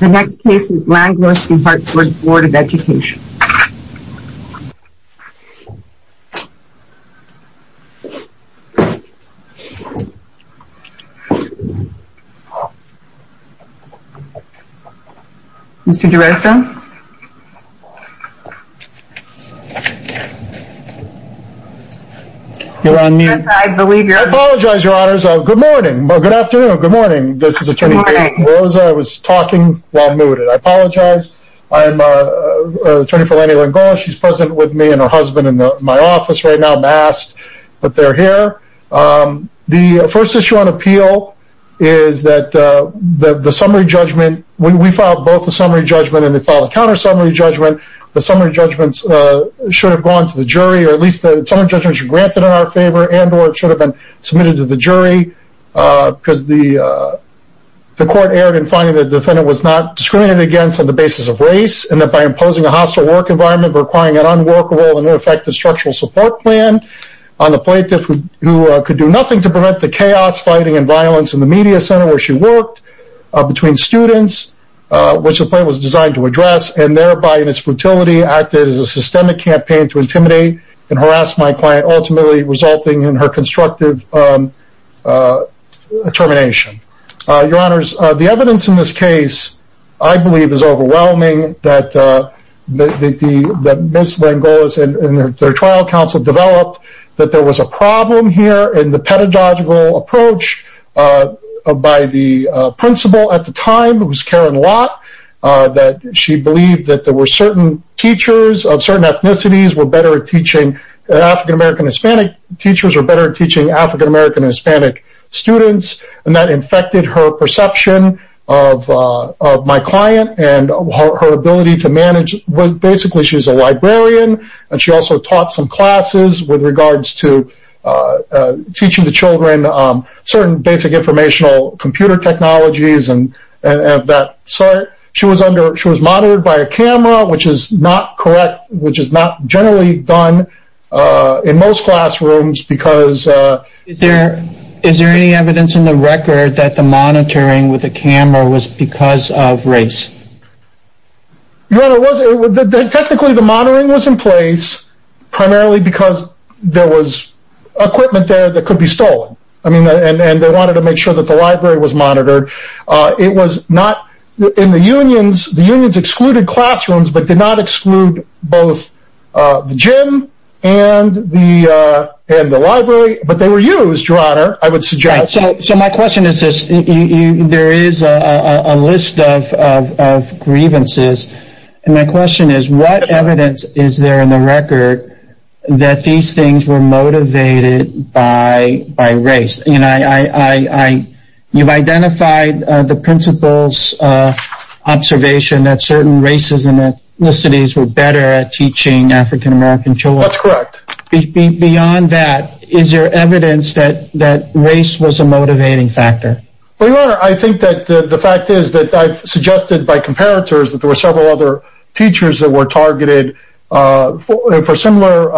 The next case is Langlois v. Hartford Board of Education Mr. DeRosa You're on mute. I apologize your honors. Oh, good morning. Well, good afternoon. Good morning. This is attorney Rose I was talking while mooted. I apologize. I am Attorney for Lanny Langlois. She's present with me and her husband in my office right now masked, but they're here the first issue on appeal is That the summary judgment when we filed both the summary judgment and they follow counter summary judgment the summary judgments Should have gone to the jury or at least the summary judgment should be granted in our favor and or it should have been submitted to the jury because the The court erred in finding the defendant was not discriminated against on the basis of race and that by imposing a hostile work environment requiring an unworkable and ineffective structural support plan on The plaintiff who could do nothing to prevent the chaos fighting and violence in the media center where she worked between students Which the plan was designed to address and thereby in its futility acted as a systemic campaign to intimidate and harass my client ultimately resulting in her constructive Determination Your honors the evidence in this case, I believe is overwhelming that The the miss Langlois and their trial counsel developed that there was a problem here in the pedagogical approach by the Principal at the time who's Karen Lott That she believed that there were certain teachers of certain ethnicities were better at teaching African-american hispanic teachers are better at teaching african-american and hispanic students and that infected her perception of My client and her ability to manage was basically she's a librarian and she also taught some classes with regards to teaching the children Certain basic informational computer technologies and and that sir She was under she was monitored by a camera, which is not correct, which is not generally done in most classrooms because There is there any evidence in the record that the monitoring with a camera was because of race Your honor, technically the monitoring was in place primarily because there was Equipment there that could be stolen. I mean and and they wanted to make sure that the library was monitored It was not in the unions the unions excluded classrooms, but did not exclude both the gym and The and the library, but they were used your honor. I would suggest so my question is this you there is a list of Grievances and my question is what evidence is there in the record? that these things were motivated by by race, you know, I You've identified the principles Observation that certain races and that the cities were better at teaching African-american children correct Beyond that is your evidence that that race was a motivating factor But your honor, I think that the fact is that I've suggested by comparators that there were several other teachers that were targeted for similar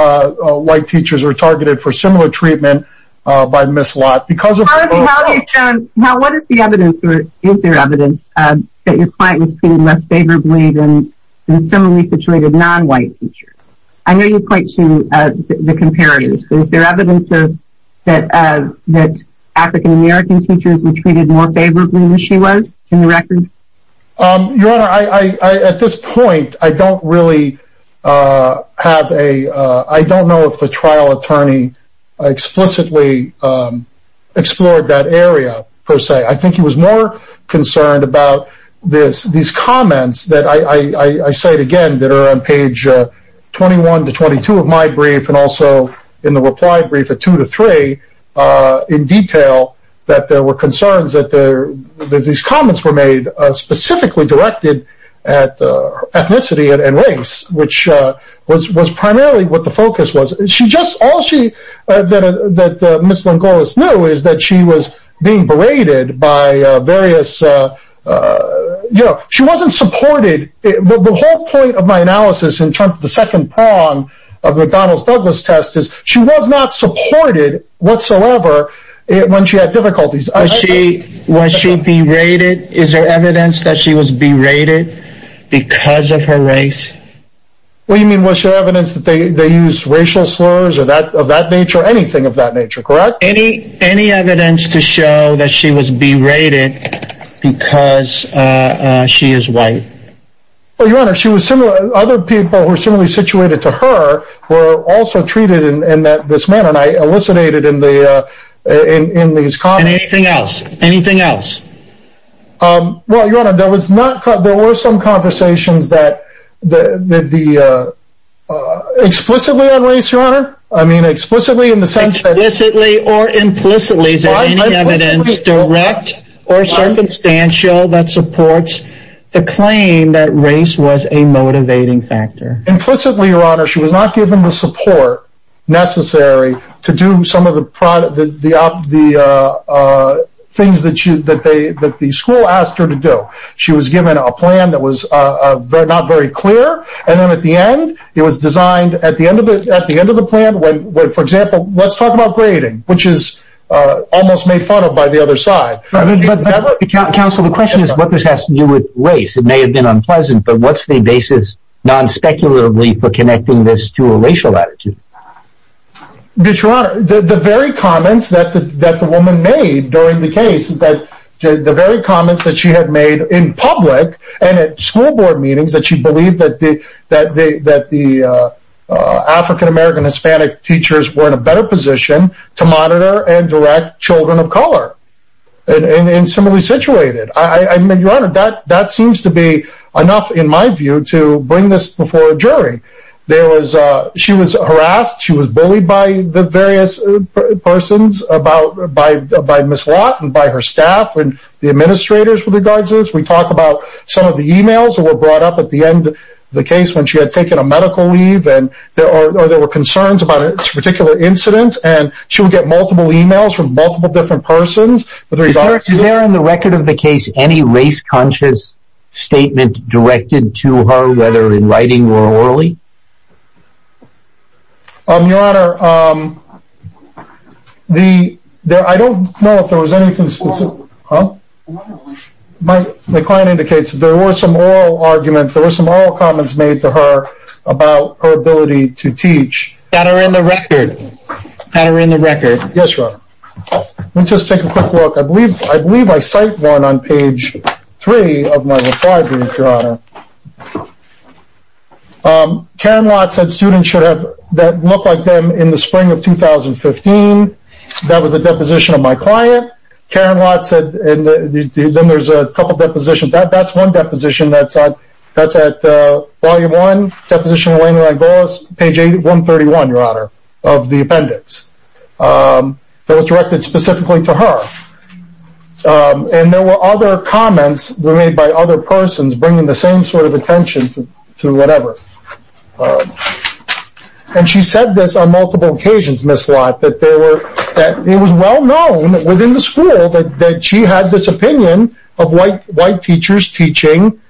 White teachers are targeted for similar treatment by miss lot because of Now what is the evidence or is there evidence that your client was treated less favorably than similarly situated non-white teachers I know you point to the comparison is there evidence of that as that African-american teachers were treated more favorably than she was in the record Your honor I at this point. I don't really Have a I don't know if the trial attorney explicitly Explored that area per se. I think he was more concerned about this these comments that I Say it again that are on page 21 to 22 of my brief and also in the reply brief at 2 to 3 in detail that there were concerns that there these comments were made specifically directed at Ethnicity and race which was was primarily what the focus was. She just all she That miss Longolus knew is that she was being berated by various you know, she wasn't supported the whole point of my analysis in terms of the second prong of the Donald's Douglas test is she was Not supported whatsoever When she had difficulties, I see what she'd be rated. Is there evidence that she was berated because of her race We mean what's your evidence that they they use racial slurs or that of that nature anything of that nature Correct. Any any evidence to show that she was berated? because She is white Well, your honor. She was similar other people who are similarly situated to her were also treated in that this man and I elucidated in the In these con anything else anything else? Well, your honor there was not cut there were some conversations that the the Explicitly on race your honor. I mean explicitly in the sense that this Italy or implicitly direct or Circumstantial that supports the claim that race was a motivating factor implicitly your honor. She was not given the support necessary to do some of the product that the Things that you that they that the school asked her to do she was given a plan that was not very clear and then at the end it was designed at the end of it at the end of the plan when for example, let's talk about grading which is Almost made fun of by the other side Counsel the question is what this has to do with race. It may have been unpleasant, but what's the basis? non-speculatively for connecting this to a racial attitude Bitch run the very comments that the that the woman made during the case that the very comments that she had made in public and at school board meetings that she believed that the that the that the African-american hispanic teachers were in a better position to monitor and direct children of color And similarly situated. I mean your honor that that seems to be enough in my view to bring this before a jury There was she was harassed she was bullied by the various Persons about by by miss Lott and by her staff and the administrators with regards as we talked about some of the emails that were brought up at the end the case when she had taken a medical leave and There are there were concerns about its particular incidents and she would get multiple emails from multiple different persons But there is there in the record of the case any race conscious Statement directed to her whether in writing or orally I'm your honor The there I don't know if there was anything specific But the client indicates there were some oral argument there were some oral comments made to her about her ability to teach That are in the record That are in the record. Yes, sir Let's just take a quick look, I believe I believe I cite one on page three of my report Karen Lott said students should have that look like them in the spring of 2015 that was a deposition of my client Karen Lott said Then there's a couple depositions that that's one deposition. That's odd. That's at volume one deposition When I goes page a 131 your honor of the appendix That was directed specifically to her And there were other comments were made by other persons bringing the same sort of attention to whatever And she said this on multiple occasions miss Lott that there were that it was well known within the school that that she had this opinion of white white teachers teaching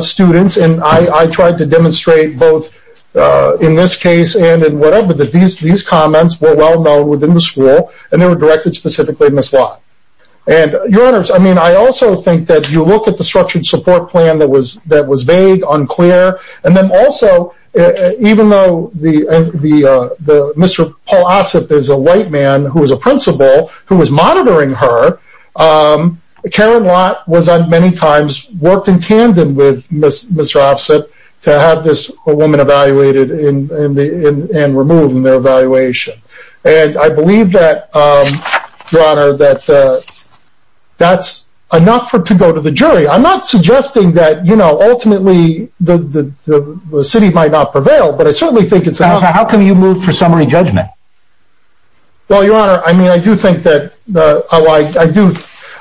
Students and I I tried to demonstrate both In this case and in whatever that these these comments were well-known within the school and they were directed specifically miss Lott And your honors, I mean, I also think that you look at the structured support plan. That was that was vague unclear and then also Even though the the the mr. Paul OSIP is a white man who was a principal who was monitoring her Karen Lott was on many times worked in tandem with mr. offset to have this a woman evaluated in the in and removed in their evaluation and I believe that your honor that That's enough for to go to the jury. I'm not suggesting that you know, ultimately the City might not prevail, but I certainly think it's how can you move for summary judgment? Well, your honor, I mean I do think that I like I do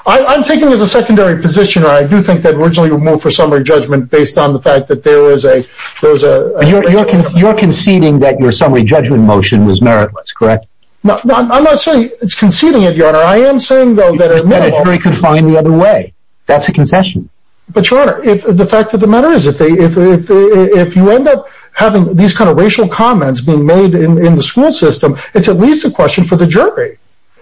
I'm taking as a secondary position I do think that originally removed for summary judgment based on the fact that there is a there's a You're conceding that your summary judgment motion was meritless, correct? No, I'm not saying it's conceding it your honor I am saying though that a military could find the other way That's a concession But your honor if the fact of the matter is if they if if you end up having these kind of racial comments being made In the school system, it's at least a question for the jury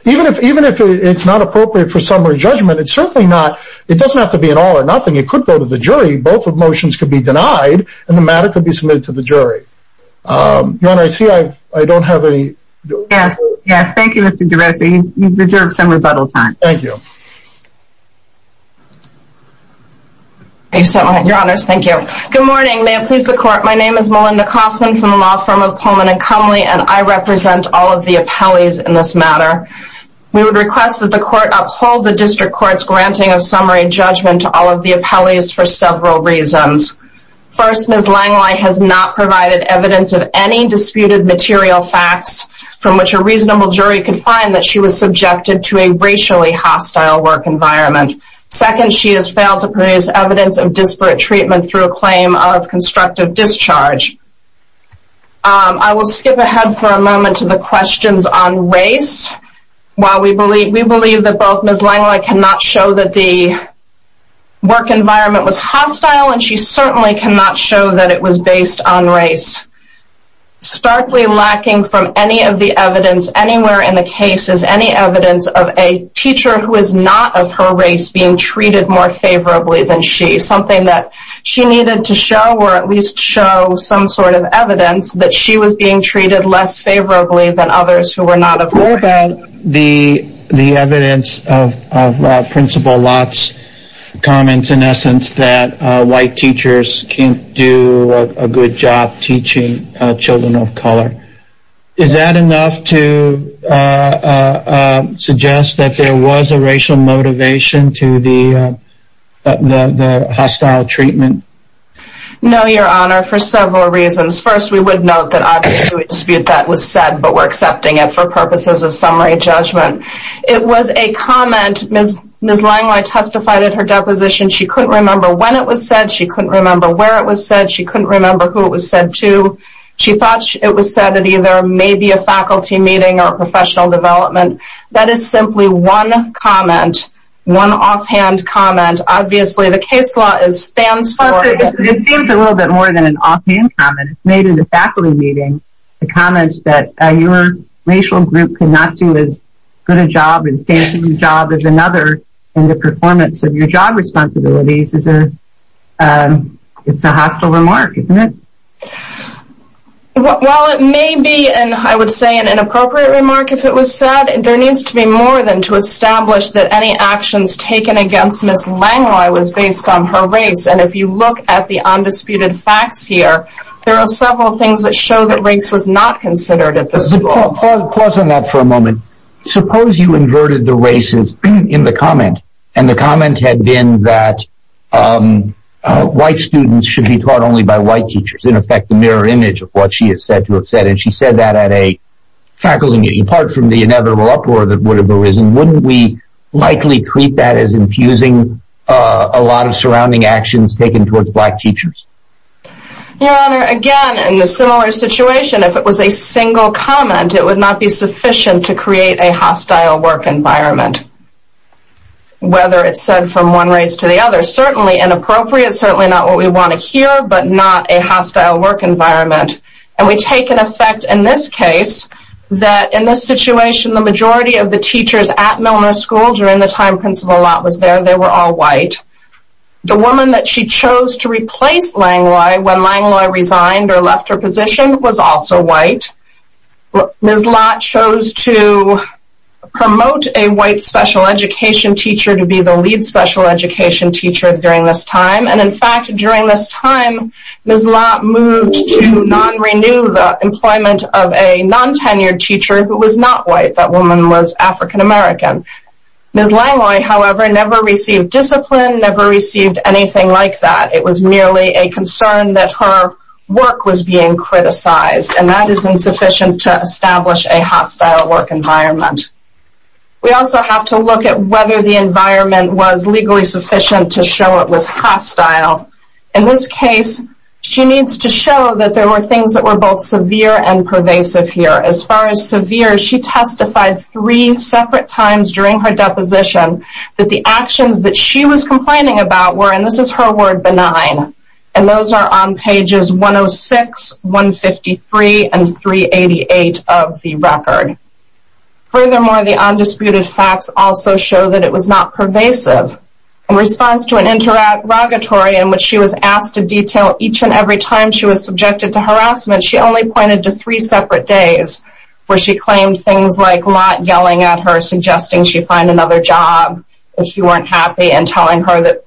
Even if even if it's not appropriate for summary judgment, it's certainly not it doesn't have to be an all-or-nothing It could go to the jury both of motions could be denied and the matter could be submitted to the jury Your honor. I see. I don't have any yes. Yes. Thank you. Mr. D'Alessio. You deserve some rebuttal time. Thank you You said your honors, thank you. Good morning, ma'am, please the court My name is Melinda Kaufman from the law firm of Pullman and Cumley and I represent all of the appellees in this matter We would request that the court uphold the district courts granting of summary judgment to all of the appellees for several reasons First miss Langlois has not provided evidence of any disputed material facts From which a reasonable jury could find that she was subjected to a racially hostile work environment Second she has failed to produce evidence of disparate treatment through a claim of constructive discharge I will skip ahead for a moment to the questions on race while we believe we believe that both miss Langlois cannot show that the Work environment was hostile and she certainly cannot show that it was based on race Starkly lacking from any of the evidence anywhere in the case is any evidence of a teacher who is not of her race being Treated more favorably than she something that she needed to show or at least show some sort of evidence that she was being treated less favorably than others who were not aware about the the evidence of principal lots Comments in essence that white teachers can't do a good job teaching children of color Is that enough to? Suggest that there was a racial motivation to the Hostile treatment No, your honor for several reasons first We would note that I dispute that was sad, but we're accepting it for purposes of summary judgment It was a comment miss miss Langlois testified at her deposition. She couldn't remember when it was said She couldn't remember where it was said. She couldn't remember who it was said to She thought it was said that either maybe a faculty meeting or a professional development. That is simply one comment One offhand comment, obviously the case law is stands for it seems a little bit more than an offhand comment Maybe the faculty meeting the comments that your racial group could not do as good a job and stay in the job there's another and the performance of your job responsibilities is a It's a hostile remark, isn't it? Well, it may be and I would say an inappropriate remark if it was said there needs to be more than to establish that any Actions taken against miss Langlois was based on her race And if you look at the undisputed facts here There are several things that show that race was not considered at the school pause on that for a moment suppose you inverted the races in the comment and the comment had been that White students should be taught only by white teachers in effect the mirror image of what she is said to have said and she said that at a faculty meeting apart from the inevitable uproar that would have arisen wouldn't we Likely treat that as infusing a lot of surrounding actions taken towards black teachers Your honor again in the similar situation if it was a single comment, it would not be sufficient to create a hostile work environment Whether it's said from one race to the other certainly inappropriate certainly not what we want to hear But not a hostile work environment and we take an effect in this case That in this situation the majority of the teachers at Milner school during the time principal lot was there. They were all white The woman that she chose to replace Langlois when Langlois resigned or left her position was also white Miss Lott chose to Promote a white special education teacher to be the lead special education teacher during this time and in fact during this time Miss Lott moved to non-renew the employment of a non-tenured teacher who was not white that woman was African-american Miss Langlois, however, never received discipline never received anything like that It was merely a concern that her work was being criticized and that is insufficient to establish a hostile work environment We also have to look at whether the environment was legally sufficient to show it was hostile in this case She needs to show that there were things that were both severe and pervasive here as far as severe She testified three separate times during her deposition That the actions that she was complaining about were and this is her word benign and those are on pages 106 153 and 388 of the record Furthermore the undisputed facts also show that it was not pervasive in response to an Interrogatory in which she was asked to detail each and every time she was subjected to harassment She only pointed to three separate days Where she claimed things like Lott yelling at her suggesting she find another job If she weren't happy and telling her that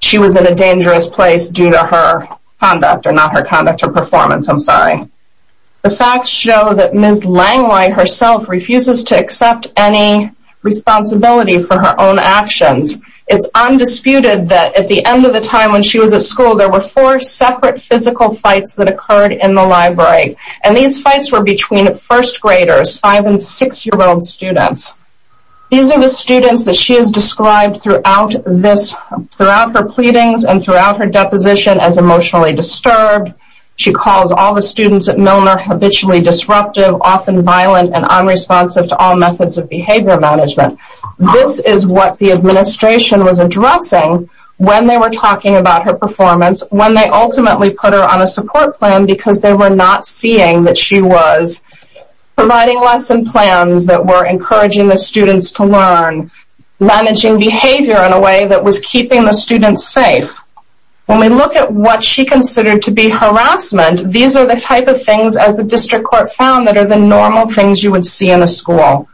she was in a dangerous place due to her conduct or not her conduct or performance I'm sorry The facts show that Ms. Langlois herself refuses to accept any Responsibility for her own actions. It's Undisputed that at the end of the time when she was at school there were four separate physical fights that occurred in the library and these Fights were between the first graders five and six year old students These are the students that she has described throughout this throughout her pleadings and throughout her deposition as emotionally disturbed She calls all the students at Milner habitually disruptive often violent and unresponsive to all methods of behavior management This is what the administration was addressing When they were talking about her performance when they ultimately put her on a support plan because they were not seeing that she was Providing lesson plans that were encouraging the students to learn Managing behavior in a way that was keeping the students safe When we look at what she considered to be harassment These are the type of things as the district court found that are the normal things you would see in a school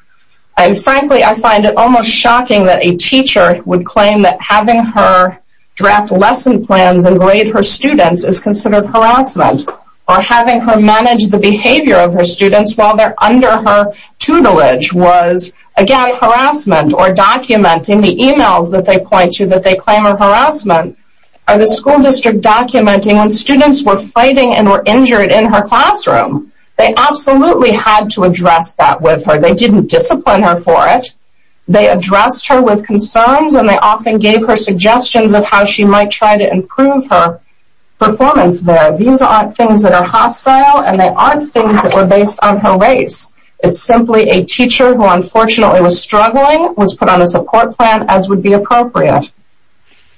And frankly, I find it almost shocking that a teacher would claim that having her Draft lesson plans and grade her students is considered harassment or having her manage the behavior of her students while they're under her tutelage was again harassment or Documenting the emails that they point to that they claim of harassment Are the school district documenting when students were fighting and were injured in her classroom? They absolutely had to address that with her. They didn't discipline her for it They addressed her with concerns and they often gave her suggestions of how she might try to improve her Performance there. These aren't things that are hostile and they aren't things that were based on her race It's simply a teacher who unfortunately was struggling was put on a support plan as would be appropriate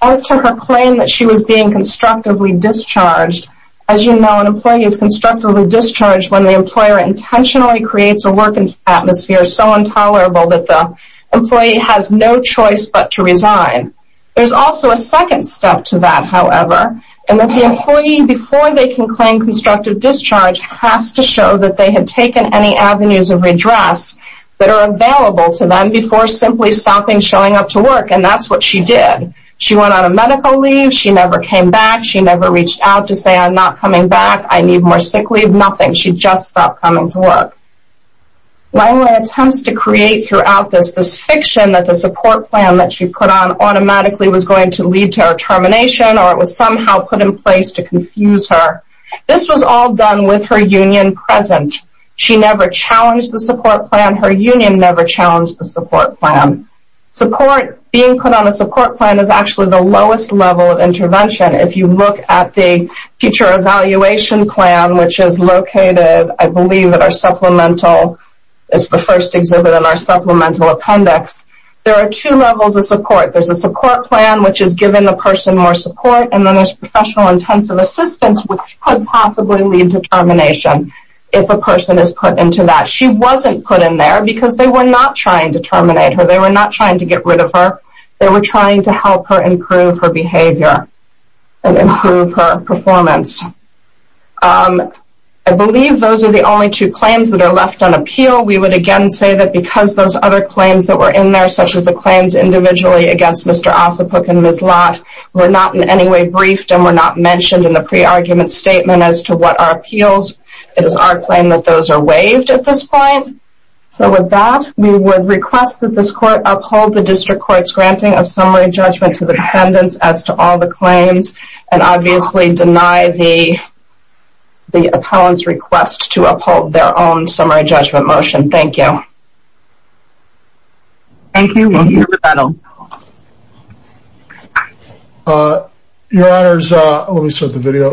As to her claim that she was being constructively discharged as you know an employee is constructively discharged when the employer Intentionally creates a working atmosphere so intolerable that the employee has no choice, but to resign There's also a second step to that however And that the employee before they can claim constructive discharge has to show that they had taken any avenues of redress That are available to them before simply stopping showing up to work, and that's what she did She went on a medical leave. She never came back. She never reached out to say I'm not coming back I need more sick leave nothing. She just stopped coming to work Lila attempts to create throughout this this fiction that the support plan that she put on Automatically was going to lead to her termination, or it was somehow put in place to confuse her This was all done with her union present. She never challenged the support plan her union never challenged the support plan Support being put on the support plan is actually the lowest level of intervention if you look at the teacher Evaluation plan which is located. I believe that our supplemental It's the first exhibit in our supplemental appendix. There are two levels of support There's a support plan which is given the person more support, and then there's professional intensive assistance Which could possibly lead to termination if a person is put into that she wasn't put in there because they were not trying to Terminate her they were not trying to get rid of her. They were trying to help her improve her behavior and improve her performance I Believe those are the only two claims that are left on appeal we would again say that because those other claims that were in there Such as the claims individually against mr. Ossipuk and Ms. Lott We're not in any way briefed and were not mentioned in the pre-argument statement as to what our appeals It is our claim that those are waived at this point So with that we would request that this court uphold the district courts granting of summary judgment to the defendants as to all the claims and obviously deny the The opponents request to uphold their own summary judgment motion. Thank you Thank you Your honors, let me start the video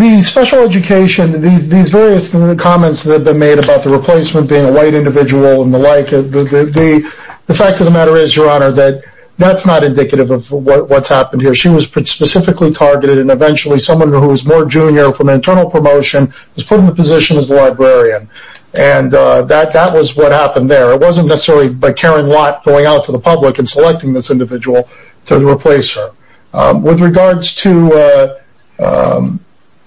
The special education these various comments that have been made about the replacement being a white individual and the like The fact of the matter is your honor that that's not indicative of what's happened here She was specifically targeted and eventually someone who was more junior from internal promotion was put in the position as a librarian and That that was what happened there It wasn't necessarily by Karen Lott going out to the public and selecting this individual to replace her with regards to You know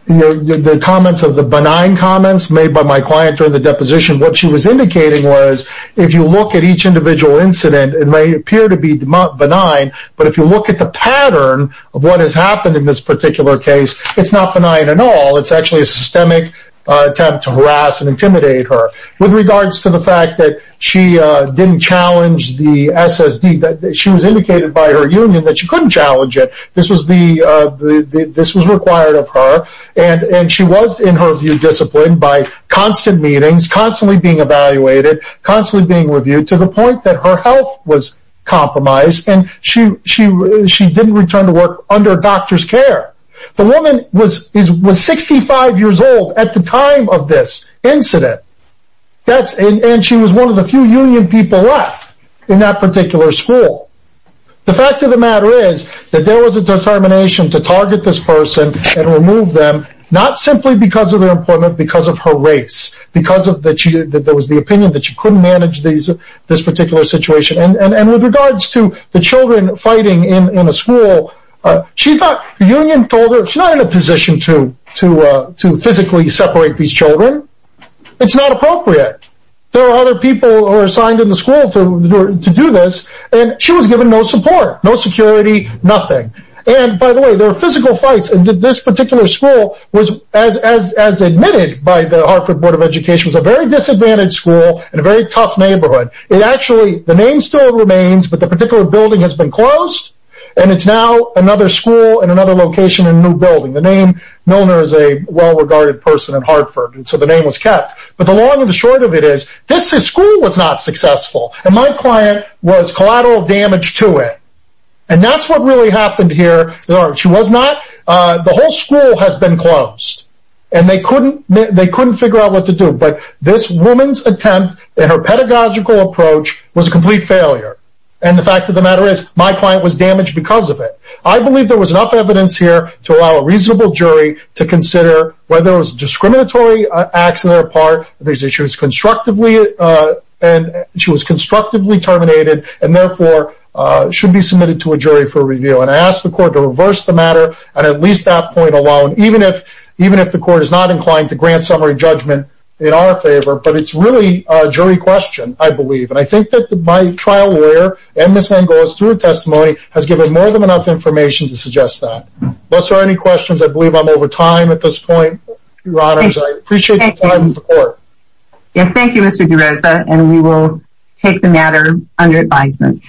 the comments of the benign comments made by my client during the deposition what she was indicating was if you look at each Individual incident it may appear to be benign, but if you look at the pattern Of what has happened in this particular case? It's not benign at all It's actually a systemic attempt to harass and intimidate her with regards to the fact that she didn't challenge the SSD that she was indicated by her union that she couldn't challenge it. This was the This was required of her and and she was in her view disciplined by constant meetings constantly being evaluated constantly being reviewed to the point that her health was Under doctor's care the woman was is was 65 years old at the time of this incident That's and she was one of the few union people left in that particular school The fact of the matter is that there was a determination to target this person and remove them Not simply because of their employment because of her race Because of that she that there was the opinion that she couldn't manage these This particular situation and and with regards to the children fighting in in a school She thought the union told her she's not in a position to to to physically separate these children It's not appropriate There are other people who are assigned in the school to do this and she was given no support No security nothing and by the way there are physical fights and did this particular school was as As admitted by the Hartford Board of Education was a very disadvantaged school and a very tough neighborhood It actually the name still remains But the particular building has been closed and it's now another school and another location in a new building the name Milner is a well-regarded person in Hartford And so the name was kept but the long and the short of it is this is school was not Successful and my client was collateral damage to it. And that's what really happened here There are she was not the whole school has been closed and they couldn't they couldn't figure out what to do But this woman's attempt that her pedagogical approach was a complete failure And the fact of the matter is my client was damaged because of it I believe there was enough evidence here to allow a reasonable jury to consider whether it was discriminatory accident apart these issues constructively and she was constructively terminated and therefore Should be submitted to a jury for review and I asked the court to reverse the matter and at least that point alone Even if even if the court is not inclined to grant summary judgment in our favor, but it's really a jury question I believe and I think that the my trial lawyer and miss Angola's through a testimony has given more than enough information to suggest that Unless there are any questions, I believe I'm over time at this point Yes, thank you, mr. DeRosa and we will take the matter under advisement